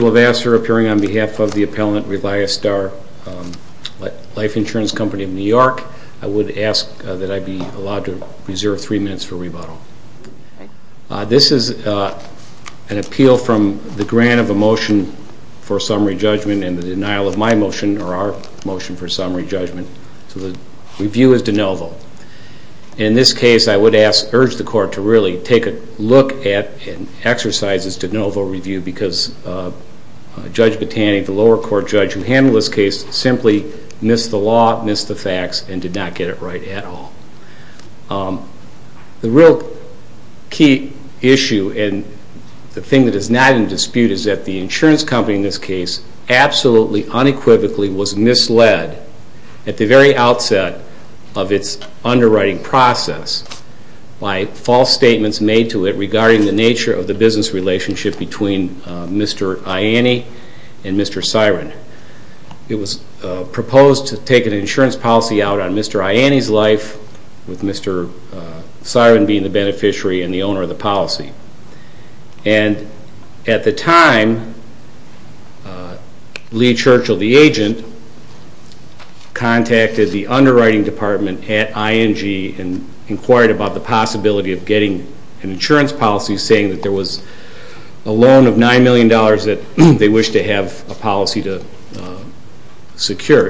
Company of New York. I would ask that I be allowed to reserve three minutes for rebuttal. Arthur Levasser, appearing on behalf of the appellant Reliastar Life Insurance Company of New York. I would ask that I be allowed to reserve three minutes for rebuttal. This is an appeal from the grant of a motion for summary judgment and the denial of my motion or our motion for summary judgment. So the review is de novo. In this case, I would urge the court to really take a look at and exercise this de novo review because Judge Botanic, the lower court judge who handled this case, simply missed the law, missed the facts, and did not get it right at all. The real key issue and the thing that is not in dispute is that the insurance company in this case absolutely unequivocally was misled at the very outset of its underwriting process by false statements made to it regarding the nature of the business relationship between Mr. Siren. It was proposed to take an insurance policy out on Mr. Ianni's life with Mr. Siren being the beneficiary and the owner of the policy. And at the time, Lee Churchill, the agent, contacted the underwriting department at ING and inquired about the possibility of getting an insurance policy to secure,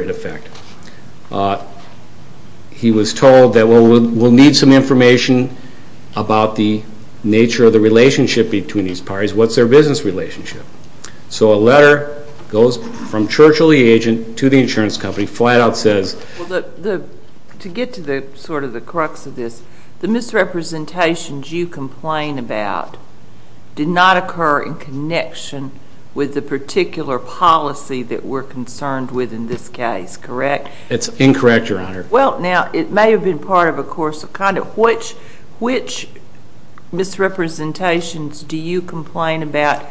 in effect. He was told that we'll need some information about the nature of the relationship between these parties, what's their business relationship. So a letter goes from Churchill, the agent, to the insurance company, flat out says... To get to sort of the crux of this, the misrepresentations you complain about did not occur in connection with the particular policy that we're concerned with in this case, correct? It's incorrect, Your Honor. Well, now, it may have been part of a course of conduct. Which misrepresentations do you complain about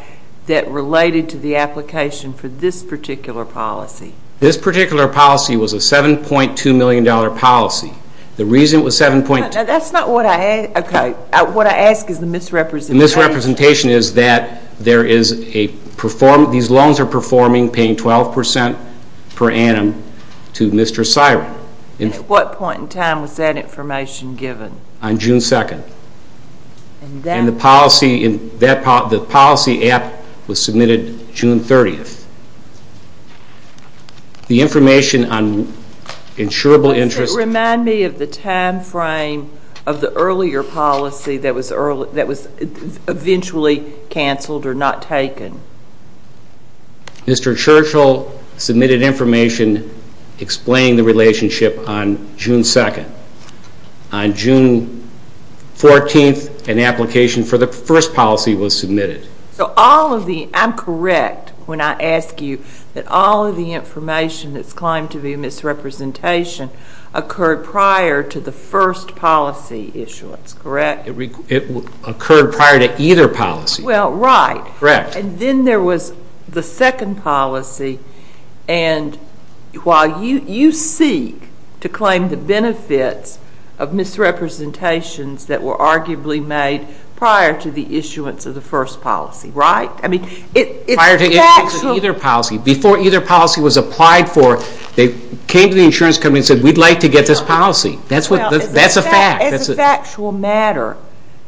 that related to the application for this particular policy? This particular policy was a $7.2 million policy. The reason it was $7.2... That's not what I... Okay. What I ask is the misrepresentation. The misrepresentation is that there is a... These loans are performing, paying 12% per annum to Mr. Siren. At what point in time was that information given? On June 2nd. And then... The policy app was submitted June 30th. The information on insurable interest... Remind me of the time frame of the earlier policy that was eventually canceled or not taken. Mr. Churchill submitted information explaining the relationship on June 2nd. On June 14th, an application for the first policy was submitted. So all of the... I'm correct when I ask you that all of the information that's claimed to be a misrepresentation occurred prior to the first policy issuance, correct? It occurred prior to either policy. Well, right. Correct. And then there was the second policy. And while you seek to claim the benefits of misrepresentations that were arguably made prior to the issuance of the first policy, right? Prior to the issuance of either policy, before either policy was applied for, they came to the insurance company and said, we'd like to get this policy. That's a fact. It's a factual matter.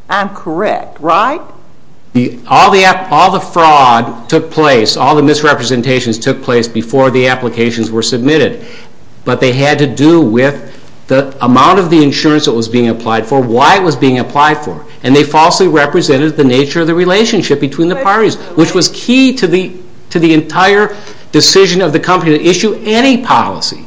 I'm correct, right? All the fraud took place, all the misrepresentations took place before the applications were submitted, but they had to do with the amount of the insurance that was being applied for, why it was being applied for. And they falsely represented the nature of the relationship between the parties, which was key to the entire decision of the company to issue any policy.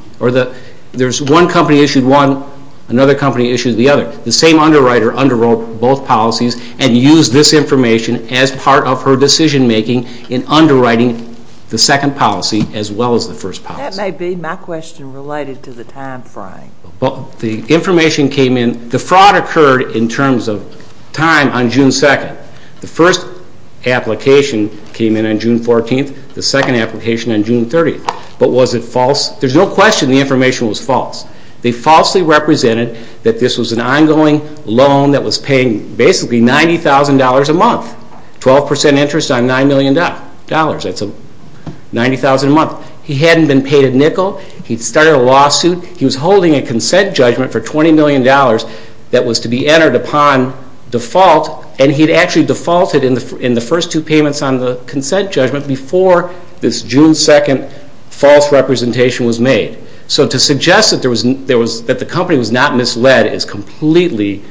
There's one company issued one, another company issued the other. The same underwriter underwrote both policies and used this information as part of her decision-making in underwriting the second policy as well as the first policy. That may be my question related to the timeframe. Well, the information came in. The fraud occurred in terms of time on June 2nd. The first application came in on June 14th, the second application on June 30th. But was it false? There's no question the information was false. They falsely represented that this was an ongoing loan that was paying basically $90,000 a month, 12% interest on $9 million. That's $90,000 a month. He hadn't been paid a nickel. He'd started a lawsuit. He was holding a consent judgment for $20 million that was to be entered upon default, and he'd actually defaulted in the first two payments on the consent judgment before this June 2nd false representation was made. So to suggest that the company was not misled is completely...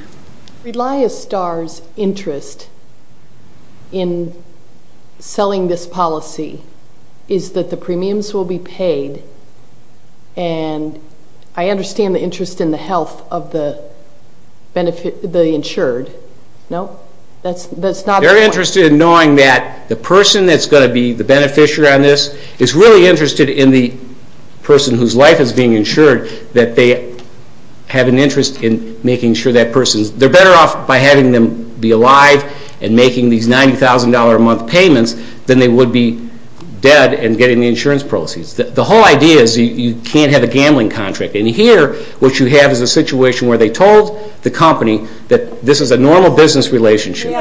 Relia Star's interest in selling this policy is that the premiums will be paid, and I understand the interest in the health of the insured. No? They're interested in knowing that the person that's going to be the beneficiary on this is really interested in the person whose life is being insured, that they have an interest in making sure that person's better off by having them be alive and making these $90,000 a month payments than they would be dead and getting the insurance proceeds. The whole idea is you can't have a gambling contract, and here what you have is a situation where they told the company that this is a normal business relationship.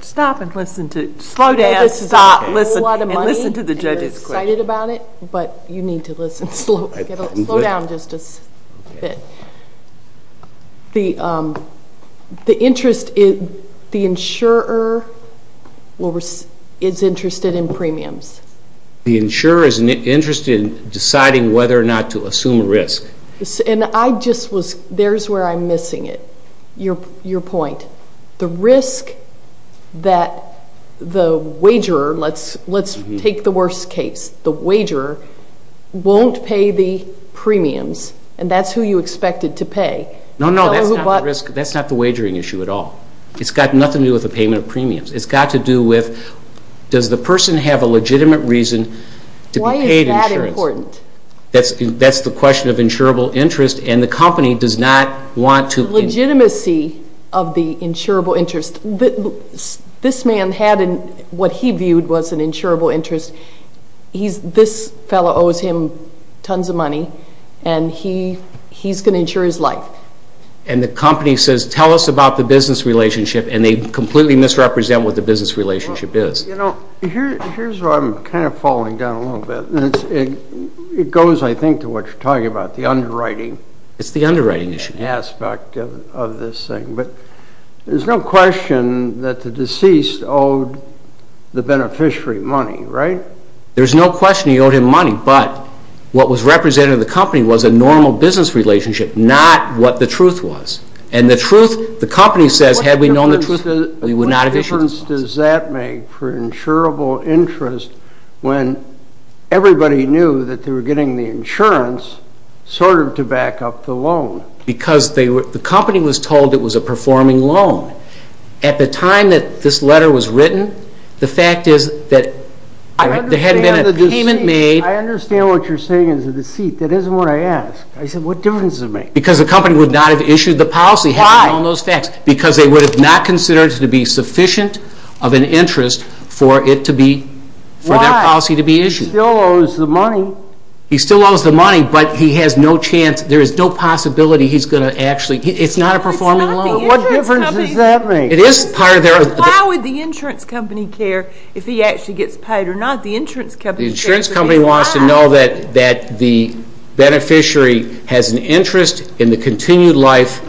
Stop and listen to it. Slow down. Stop. Listen. Listen to the judge's question. You're excited about it, but you need to listen. Slow down just a bit. The interest is the insurer is interested in premiums. The insurer is interested in deciding whether or not to assume risk. There's where I'm missing it, your point. The risk that the wagerer, let's take the worst case, the wagerer won't pay the premiums, and that's who you expected to pay. No, no, that's not the wagering issue at all. It's got nothing to do with the payment of premiums. It's got to do with does the person have a legitimate reason to be paid insurance. Why is that important? That's the question of insurable interest, and the company does not want to. The legitimacy of the insurable interest, this man had what he viewed was an insurable interest. This fellow owes him tons of money, and he's going to insure his life. And the company says, tell us about the business relationship, and they completely misrepresent what the business relationship is. Here's where I'm kind of falling down a little bit. It goes, I think, to what you're talking about, the underwriting. It's the underwriting issue. The underwriting aspect of this thing. But there's no question that the deceased owed the beneficiary money, right? There's no question he owed him money, but what was represented in the company was a normal business relationship, not what the truth was. And the truth, the company says, had we known the truth, we would not have issued. What difference does that make for insurable interest when everybody knew that they were getting the insurance sort of to back up the loan? Because the company was told it was a performing loan. At the time that this letter was written, the fact is that there hadn't been a payment made. I understand what you're saying is a deceit. That isn't what I asked. I said, what difference does it make? Because the company would not have issued the policy. Why? Because they would have not considered it to be sufficient of an interest for their policy to be issued. Why? He still owes the money. He still owes the money, but he has no chance. There is no possibility he's going to actually. It's not a performing loan. What difference does that make? Why would the insurance company care if he actually gets paid or not? The insurance company wants to know that the beneficiary has an interest in the continued life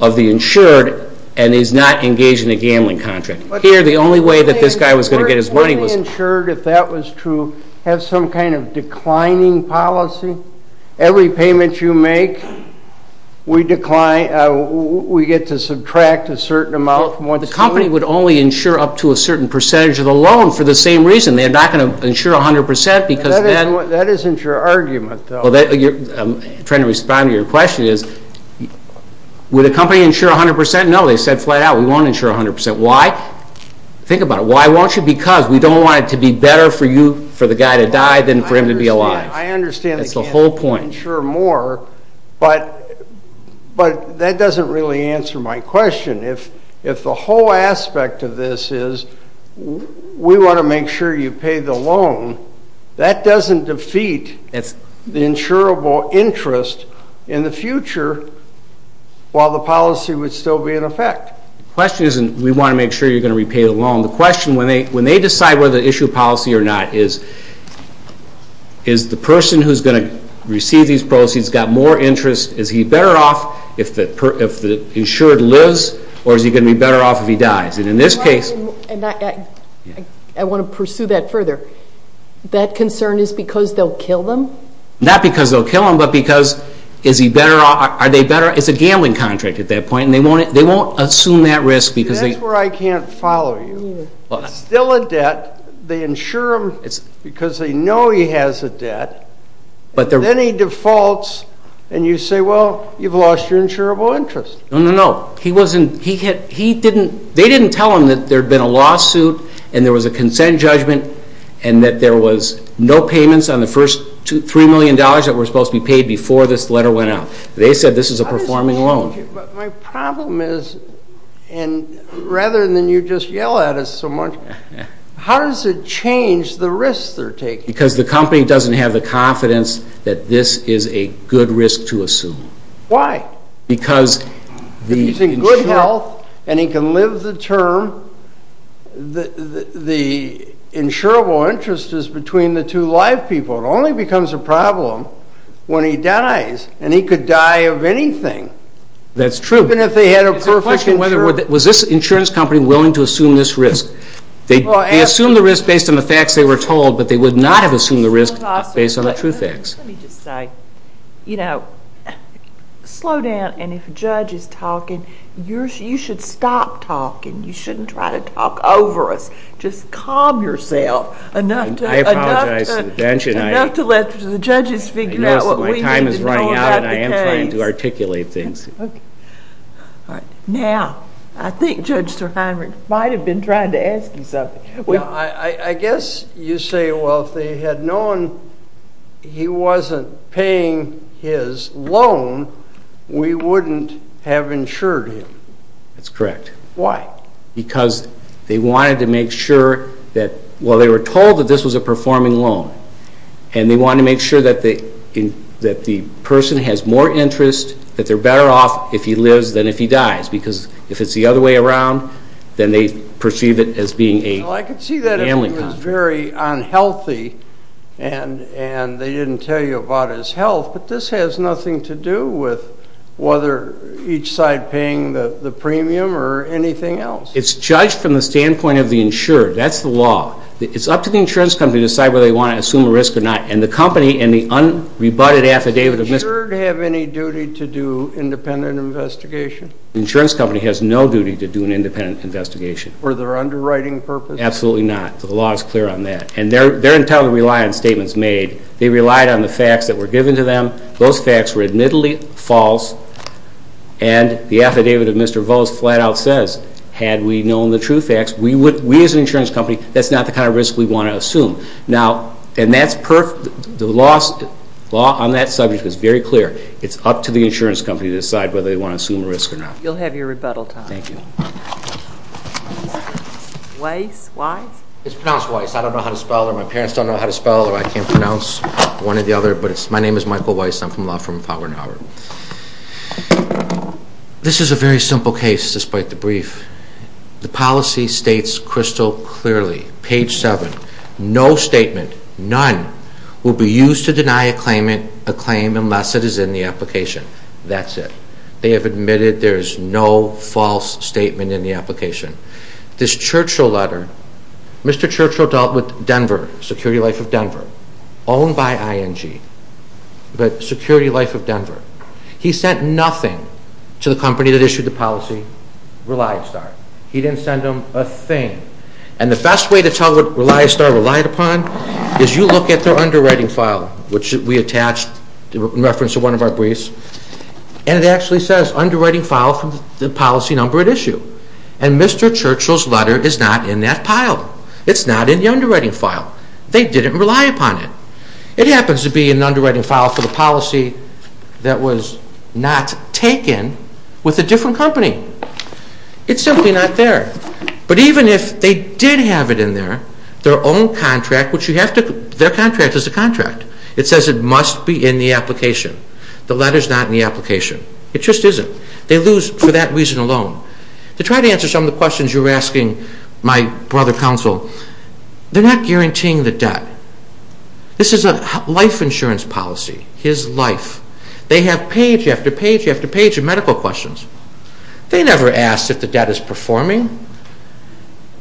of the insured and is not engaged in a gambling contract. Here, the only way that this guy was going to get his money was... Would the insured, if that was true, have some kind of declining policy? Every payment you make, we get to subtract a certain amount from what's due? The company would only insure up to a certain percentage of the loan for the same reason. They're not going to insure 100 percent because then... That isn't your argument, though. I'm trying to respond to your question. Would a company insure 100 percent? No, they said flat out we won't insure 100 percent. Why? Think about it. Why won't you? Because we don't want it to be better for you, for the guy to die, than for him to be alive. I understand. That's the whole point. They can insure more, but that doesn't really answer my question. If the whole aspect of this is we want to make sure you pay the loan, that doesn't defeat the insurable interest in the future while the policy would still be in effect. The question isn't we want to make sure you're going to repay the loan. The question, when they decide whether to issue a policy or not, is the person who's going to receive these proceeds got more interest? Is he better off if the insured lives, or is he going to be better off if he dies? I want to pursue that further. That concern is because they'll kill him? Not because they'll kill him, but because is he better off? It's a gambling contract at that point, and they won't assume that risk. That's where I can't follow you. It's still a debt. They insure him because they know he has a debt. Then he defaults, and you say, well, you've lost your insurable interest. No, no, no. They didn't tell him that there had been a lawsuit and there was a consent judgment and that there was no payments on the first $3 million that were supposed to be paid before this letter went out. They said this is a performing loan. My problem is, rather than you just yell at us so much, how does it change the risks they're taking? Because the company doesn't have the confidence that this is a good risk to assume. Why? If he's in good health and he can live the term, the insurable interest is between the two live people. It only becomes a problem when he dies, and he could die of anything. That's true. Even if they had a perfect insurance. Was this insurance company willing to assume this risk? They assumed the risk based on the facts they were told, but they would not have assumed the risk based on the true facts. Let me just say, you know, slow down, and if a judge is talking, you should stop talking. You shouldn't try to talk over us. Just calm yourself enough to let the judges figure out what we need to know about the case. I know my time is running out, and I am trying to articulate things. Okay. Now, I think Judge Sir Heinrich might have been trying to ask you something. I guess you say, well, if they had known he wasn't paying his loan, we wouldn't have insured him. That's correct. Why? Because they wanted to make sure that, well, they were told that this was a performing loan, and they wanted to make sure that the person has more interest, that they're better off if he lives than if he dies, because if it's the other way around, then they perceive it as being a family contract. Well, I could see that if he was very unhealthy and they didn't tell you about his health, but this has nothing to do with whether each side paying the premium or anything else. It's judged from the standpoint of the insured. That's the law. It's up to the insurance company to decide whether they want to assume a risk or not, and the company and the unrebutted affidavit of mis- Does the insured have any duty to do independent investigation? The insurance company has no duty to do an independent investigation. Were there underwriting purposes? Absolutely not. The law is clear on that, and they're entirely reliant on statements made. They relied on the facts that were given to them. Those facts were admittedly false, and the affidavit of Mr. Vose flat out says, had we known the true facts, we as an insurance company, that's not the kind of risk we want to assume. Now, and that's perfect. The law on that subject is very clear. It's up to the insurance company to decide whether they want to assume a risk or not. You'll have your rebuttal time. Thank you. Weiss? Weiss? It's pronounced Weiss. I don't know how to spell it, or my parents don't know how to spell it, or I can't pronounce one or the other, but my name is Michael Weiss. I'm from Law Firm of Howard and Howard. This is a very simple case despite the brief. The policy states crystal clearly, page 7, no statement, none, will be used to deny a claim unless it is in the application. That's it. They have admitted there is no false statement in the application. This Churchill letter, Mr. Churchill dealt with Denver, Security Life of Denver, owned by ING, but Security Life of Denver. He sent nothing to the company that issued the policy, ReliStar. He didn't send them a thing. And the best way to tell what ReliStar relied upon is you look at their underwriting file, which we attached in reference to one of our briefs, and it actually says underwriting file from the policy number at issue. And Mr. Churchill's letter is not in that pile. It's not in the underwriting file. They didn't rely upon it. It happens to be in the underwriting file for the policy that was not taken with a different company. It's simply not there. But even if they did have it in there, their own contract, which you have to, their contract is a contract. It says it must be in the application. The letter's not in the application. It just isn't. They lose for that reason alone. To try to answer some of the questions you were asking, my brother counsel, they're not guaranteeing the debt. This is a life insurance policy, his life. They have page after page after page of medical questions. They never ask if the debt is performing.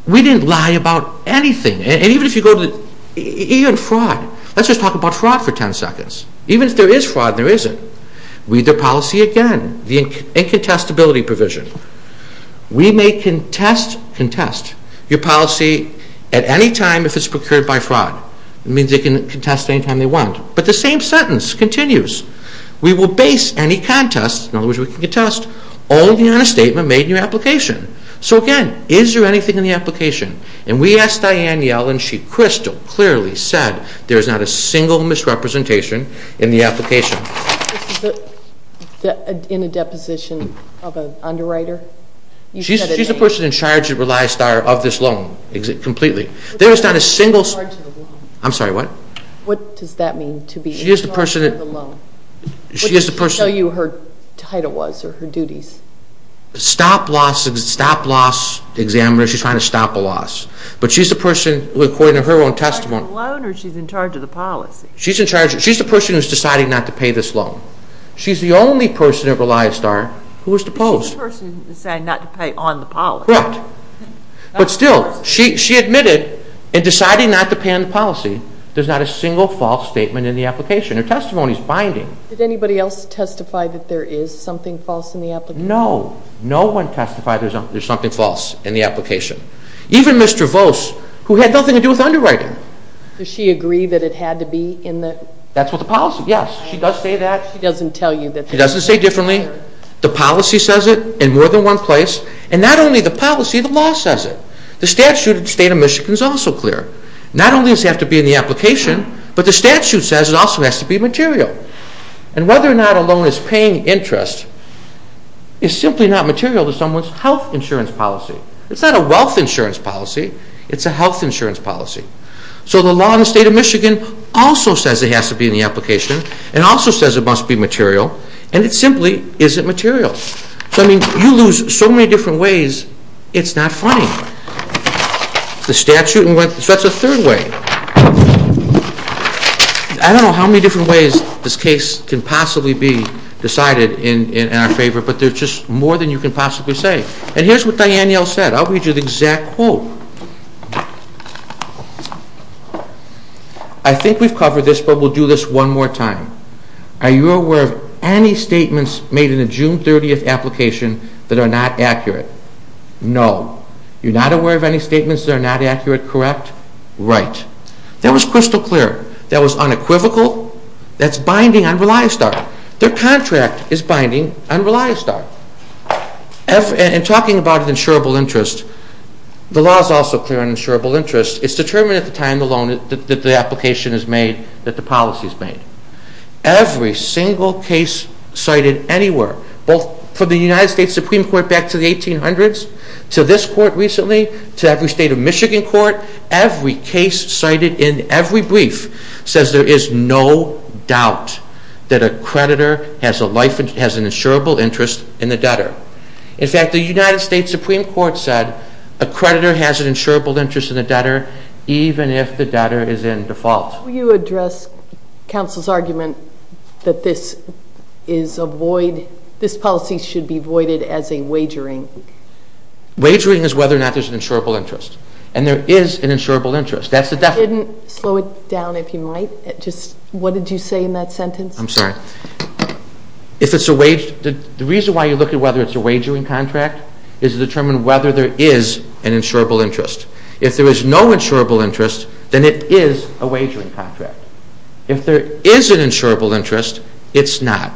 We didn't lie about anything. And even if you go to fraud, let's just talk about fraud for 10 seconds. Even if there is fraud, there isn't. Read their policy again, the incontestability provision. We may contest your policy at any time if it's procured by fraud. It means they can contest any time they want. But the same sentence continues. We will base any contest, in other words, we can contest, only on a statement made in your application. So, again, is there anything in the application? And we asked Diane Yellen. She crystal clearly said there is not a single misrepresentation in the application. Is it in a deposition of an underwriter? She's the person in charge of this loan completely. There is not a single. I'm sorry, what? What does that mean, to be in charge of the loan? What did she tell you her title was or her duties? Stop loss examiner. She's trying to stop a loss. But she's the person, according to her own testimony. She's in charge of the loan or she's in charge of the policy? She's in charge. She's the person who's deciding not to pay this loan. She's the only person at ReliSTAR who was deposed. She's the person deciding not to pay on the policy. Correct. But still, she admitted in deciding not to pay on the policy. There's not a single false statement in the application. Her testimony is binding. Did anybody else testify that there is something false in the application? No. No one testified there's something false in the application. Even Ms. Travose, who had nothing to do with underwriting. Does she agree that it had to be in the? That's what the policy, yes. She does say that. She doesn't tell you that. She doesn't say differently. The policy says it in more than one place. And not only the policy, the law says it. The statute of the state of Michigan is also clear. Not only does it have to be in the application, but the statute says it also has to be material. And whether or not a loan is paying interest is simply not material to someone's health insurance policy. It's not a wealth insurance policy. It's a health insurance policy. So the law in the state of Michigan also says it has to be in the application and also says it must be material. And it simply isn't material. So, I mean, you lose so many different ways, it's not funny. The statute, so that's a third way. I don't know how many different ways this case can possibly be decided in our favor, but there's just more than you can possibly say. And here's what Diane Yell said. I'll read you the exact quote. I think we've covered this, but we'll do this one more time. Are you aware of any statements made in a June 30th application that are not accurate? No. You're not aware of any statements that are not accurate, correct? Right. That was crystal clear. That was unequivocal. That's binding on ReliSTAR. Their contract is binding on ReliSTAR. And talking about an insurable interest, the law is also clear on insurable interest. It's determined at the time the loan, that the application is made, that the policy is made. Every single case cited anywhere, both from the United States Supreme Court back to the 1800s, to this court recently, to every state of Michigan court, every case cited in every brief, says there is no doubt that a creditor has an insurable interest in the debtor. In fact, the United States Supreme Court said a creditor has an insurable interest in the debtor, even if the debtor is in default. How do you address counsel's argument that this is a void, this policy should be voided as a wagering? Wagering is whether or not there's an insurable interest. And there is an insurable interest. Slow it down if you might. What did you say in that sentence? I'm sorry. The reason why you look at whether it's a wagering contract is to determine whether there is an insurable interest. If there is no insurable interest, then it is a wagering contract. If there is an insurable interest, it's not.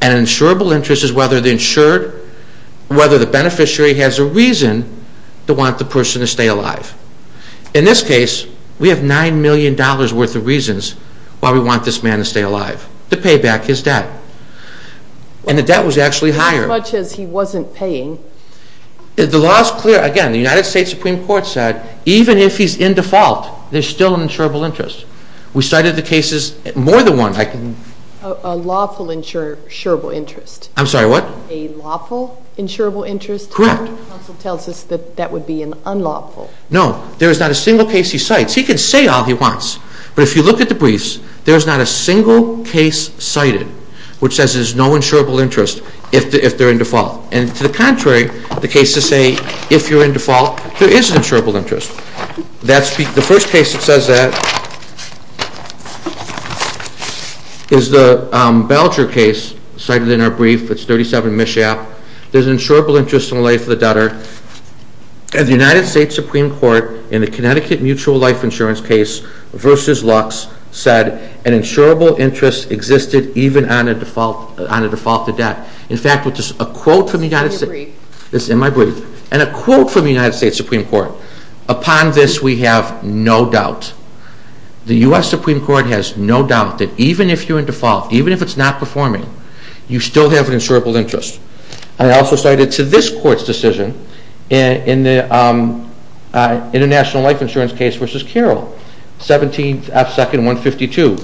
An insurable interest is whether the beneficiary has a reason to want the person to stay alive. In this case, we have $9 million worth of reasons why we want this man to stay alive, to pay back his debt. And the debt was actually higher. As much as he wasn't paying. The law is clear. Again, the United States Supreme Court said even if he's in default, there's still an insurable interest. We cited the cases more than one. A lawful insurable interest. I'm sorry, what? A lawful insurable interest? Correct. Counsel tells us that that would be an unlawful. No. There is not a single case he cites. He can say all he wants. But if you look at the briefs, there is not a single case cited which says there's no insurable interest if they're in default. And to the contrary, the cases say if you're in default, there is an insurable interest. The first case that says that is the Belger case cited in our brief. It's 37 Mishap. There's an insurable interest in the life of the debtor. And the United States Supreme Court, in the Connecticut Mutual Life Insurance case versus Lux, said an insurable interest existed even on a defaulted debt. In fact, there's a quote from the United States. It's in your brief. It's in my brief. And a quote from the United States Supreme Court. Upon this we have no doubt. The U.S. Supreme Court has no doubt that even if you're in default, even if it's not performing, you still have an insurable interest. I also cited to this court's decision in the International Life Insurance case versus Carroll, 17 F. Second 152.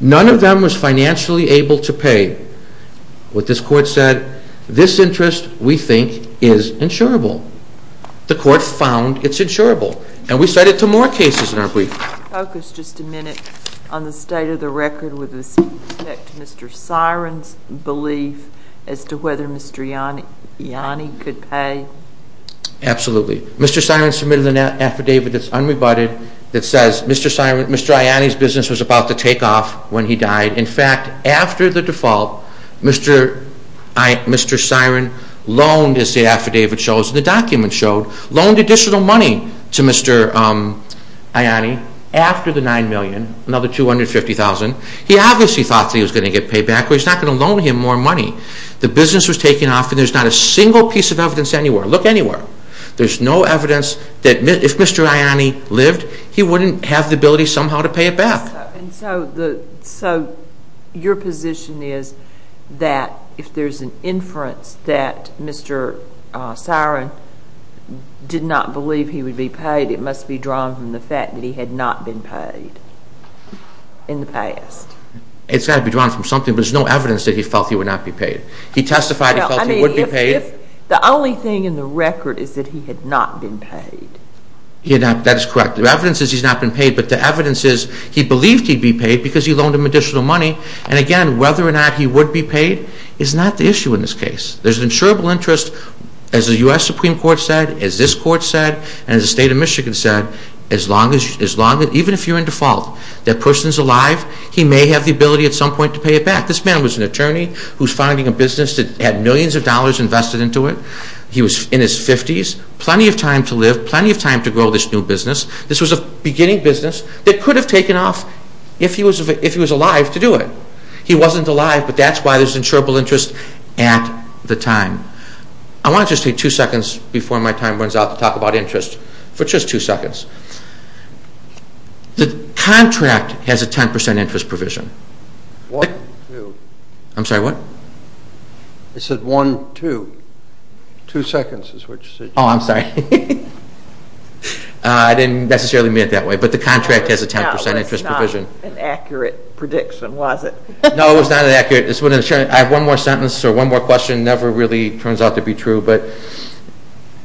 None of them was financially able to pay. What this court said, this interest, we think, is insurable. The court found it's insurable. And we cite it to more cases in our brief. Could you focus just a minute on the state of the record with respect to Mr. Siren's belief as to whether Mr. Ianni could pay? Absolutely. Mr. Siren submitted an affidavit that's unrebutted that says Mr. Ianni's business was about to take off when he died. In fact, after the default, Mr. Siren loaned, as the affidavit shows, the document showed, loaned additional money to Mr. Ianni after the $9 million, another $250,000. He obviously thought that he was going to get paid back, but he's not going to loan him more money. The business was taking off, and there's not a single piece of evidence anywhere. Look anywhere. There's no evidence that if Mr. Ianni lived, he wouldn't have the ability somehow to pay it back. And so your position is that if there's an inference that Mr. Siren did not believe he would be paid, it must be drawn from the fact that he had not been paid in the past. It's got to be drawn from something, but there's no evidence that he felt he would not be paid. He testified he felt he would be paid. The only thing in the record is that he had not been paid. That is correct. The evidence is he's not been paid, but the evidence is he believed he'd be paid because he loaned him additional money. And, again, whether or not he would be paid is not the issue in this case. There's an insurable interest, as the U.S. Supreme Court said, as this Court said, and as the State of Michigan said, as long as you, even if you're in default, that person's alive, he may have the ability at some point to pay it back. This man was an attorney who's finding a business that had millions of dollars invested into it. He was in his 50s. Plenty of time to live. Plenty of time to grow this new business. This was a beginning business that could have taken off if he was alive to do it. He wasn't alive, but that's why there's an insurable interest at the time. I want to just take two seconds before my time runs out to talk about interest, for just two seconds. The contract has a 10% interest provision. One, two. I'm sorry, what? It said one, two. Two seconds is what you said. Oh, I'm sorry. I didn't necessarily mean it that way, but the contract has a 10% interest provision. No, that's not an accurate prediction, was it? No, it was not an accurate prediction. I have one more sentence or one more question, never really turns out to be true, but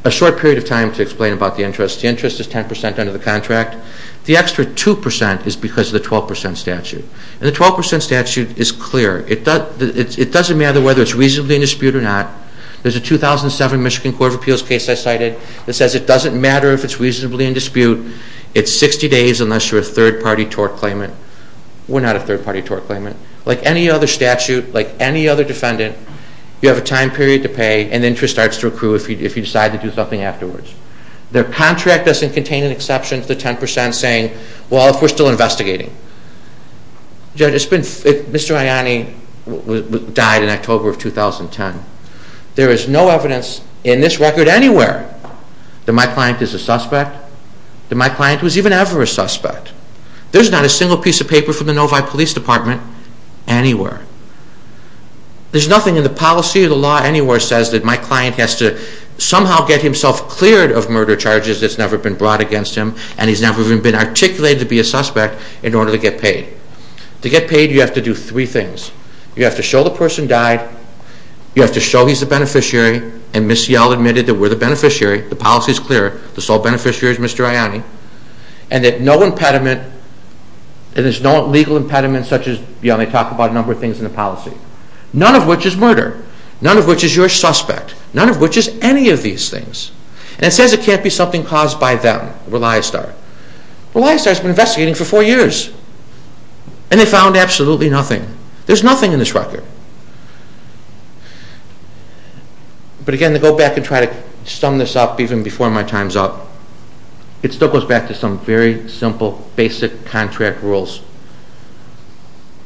a short period of time to explain about the interest. The interest is 10% under the contract. The extra 2% is because of the 12% statute, and the 12% statute is clear. It doesn't matter whether it's reasonably in dispute or not. There's a 2007 Michigan Court of Appeals case I cited that says it doesn't matter if it's reasonably in dispute. It's 60 days unless you're a third-party tort claimant. We're not a third-party tort claimant. Like any other statute, like any other defendant, you have a time period to pay, and the interest starts to accrue if you decide to do something afterwards. The contract doesn't contain an exception to the 10% saying, well, if we're still investigating. Mr. Ianni died in October of 2010. There is no evidence in this record anywhere that my client is a suspect, that my client was even ever a suspect. There's not a single piece of paper from the Novi Police Department anywhere. There's nothing in the policy or the law anywhere says that my client has to somehow get himself cleared of murder charges that's never been brought against him, and he's never even been articulated to be a suspect in order to get paid. To get paid, you have to do three things. You have to show the person died. You have to show he's a beneficiary, and Ms. Seale admitted that we're the beneficiary. The policy is clear. The sole beneficiary is Mr. Ianni. And that no impediment, and there's no legal impediment such as, you know, they talk about a number of things in the policy. None of which is murder. None of which is you're a suspect. None of which is any of these things. And it says it can't be something caused by them, ReliSTAR. ReliSTAR's been investigating for four years, and they found absolutely nothing. There's nothing in this record. But again, to go back and try to sum this up even before my time's up, it still goes back to some very simple, basic contract rules.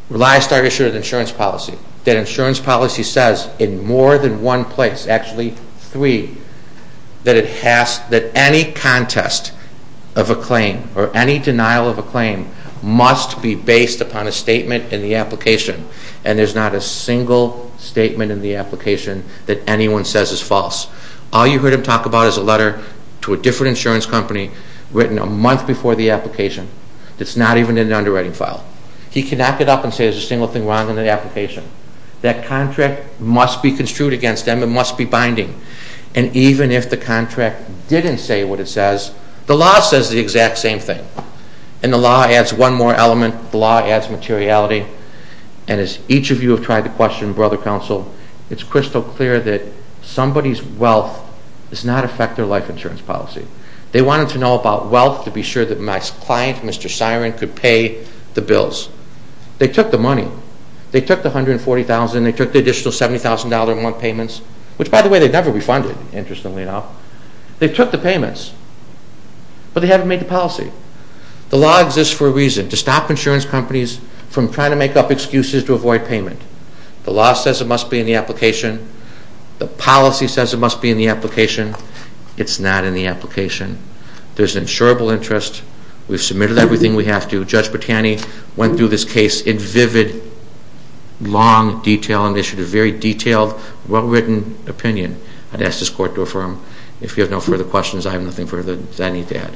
ReliSTAR issued an insurance policy. That insurance policy says in more than one place, actually three, that any contest of a claim or any denial of a claim must be based upon a statement in the application. And there's not a single statement in the application that anyone says is false. All you heard him talk about is a letter to a different insurance company written a month before the application. It's not even in the underwriting file. He cannot get up and say there's a single thing wrong in the application. That contract must be construed against them. It must be binding. And even if the contract didn't say what it says, the law says the exact same thing. And the law adds one more element. The law adds materiality. And as each of you have tried to question, brother counsel, it's crystal clear that somebody's wealth does not affect their life insurance policy. They wanted to know about wealth to be sure that my client, Mr. Siren, could pay the bills. They took the money. They took the $140,000. They took the additional $70,000 in month payments, which, by the way, they never refunded, interestingly enough. They took the payments, but they haven't made the policy. The law exists for a reason, to stop insurance companies from trying to make up excuses to avoid payment. The law says it must be in the application. The policy says it must be in the application. It's not in the application. There's an insurable interest. We've submitted everything we have to. Judge Bertani went through this case in vivid, long, detailed initiative, very detailed, well-written opinion. I'd ask this court to affirm. If you have no further questions, I have nothing further that I need to add.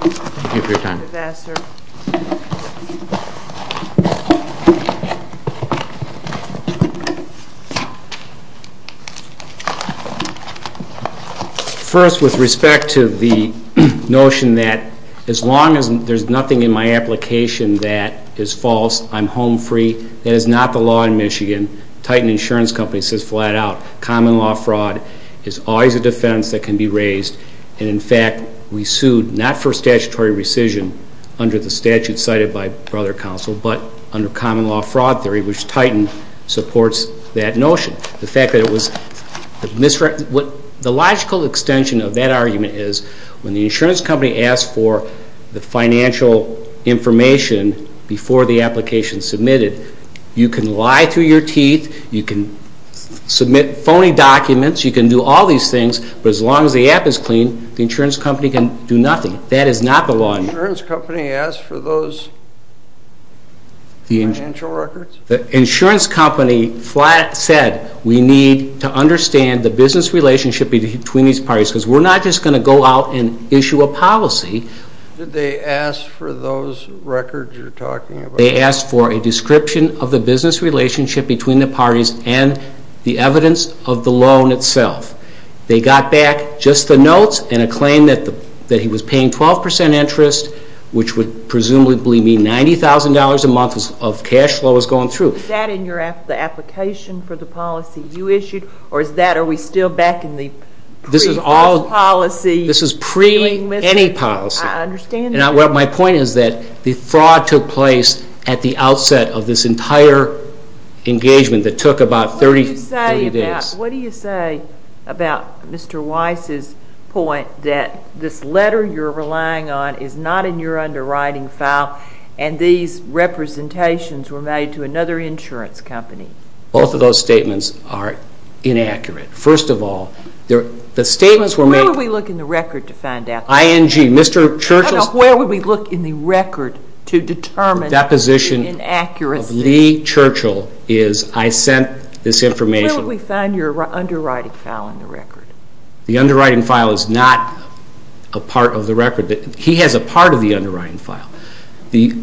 Thank you for your time. Thank you, Mr. Ambassador. First, with respect to the notion that as long as there's nothing in my application that is false, I'm home free, that is not the law in Michigan. Titan Insurance Company says flat out, common law fraud is always a defense that can be raised. And, in fact, we sued not for statutory rescission under the statute cited by Brother Counsel, but under common law fraud theory, which Titan supports that notion. The fact that it was miswritten, the logical extension of that argument is, when the insurance company asks for the financial information before the application is submitted, you can lie through your teeth, you can submit phony documents, you can do all these things, but as long as the app is clean, the insurance company can do nothing. That is not the law in Michigan. The insurance company asked for those financial records? The insurance company said we need to understand the business relationship between these parties, because we're not just going to go out and issue a policy. Did they ask for those records you're talking about? They asked for a description of the business relationship between the parties and the evidence of the loan itself. They got back just the notes and a claim that he was paying 12 percent interest, which would presumably mean $90,000 a month of cash flow was going through. Is that in the application for the policy you issued, or are we still back in the pre-fraud policy? This is pre-any policy. I understand that. My point is that the fraud took place at the outset of this entire engagement that took about 30 days. What do you say about Mr. Weiss's point that this letter you're relying on is not in your underwriting file and these representations were made to another insurance company? Both of those statements are inaccurate. First of all, the statements were made— Where would we look in the record to find out? ING. Mr. Churchill's— No, no, where would we look in the record to determine inaccuracy? I sent this information— Where would we find your underwriting file in the record? The underwriting file is not a part of the record. He has a part of the underwriting file. The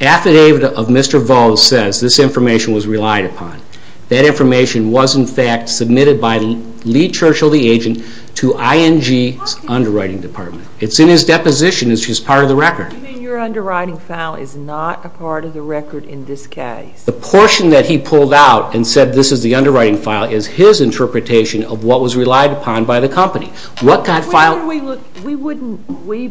affidavit of Mr. Volz says this information was relied upon. That information was in fact submitted by Lee Churchill, the agent, to ING's underwriting department. It's in his deposition. It's just part of the record. You mean your underwriting file is not a part of the record in this case? The portion that he pulled out and said this is the underwriting file is his interpretation of what was relied upon by the company. What kind of file— We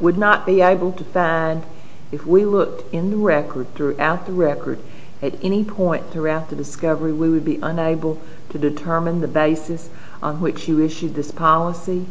would not be able to find— If we looked in the record, throughout the record, at any point throughout the discovery, we would be unable to determine the basis on which you issued this policy?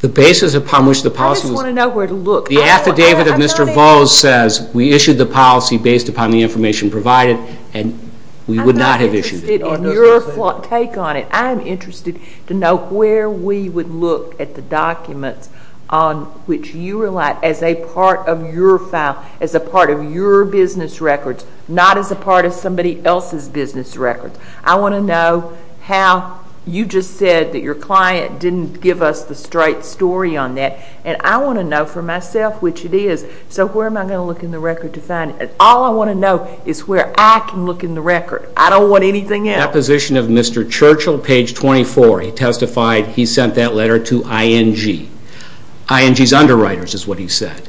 The basis upon which the policy was— I just want to know where to look. The affidavit of Mr. Volz says we issued the policy based upon the information provided, and we would not have issued it. I'm not interested in your take on it. I'm interested to know where we would look at the documents on which you relied as a part of your file, as a part of your business records, not as a part of somebody else's business records. I want to know how you just said that your client didn't give us the straight story on that, and I want to know for myself which it is. So where am I going to look in the record to find it? All I want to know is where I can look in the record. I don't want anything else. In the position of Mr. Churchill, page 24, he testified he sent that letter to ING. ING's underwriters is what he said.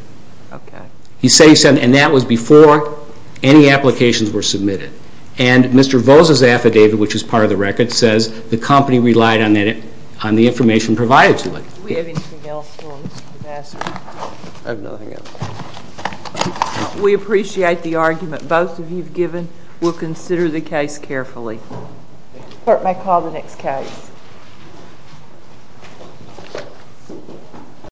Okay. And that was before any applications were submitted. And Mr. Volz's affidavit, which is part of the record, says the company relied on the information provided to it. Do we have anything else for Mr. Ambassador? I have nothing else. We appreciate the argument both of you have given. We'll consider the case carefully. The clerk may call the next case.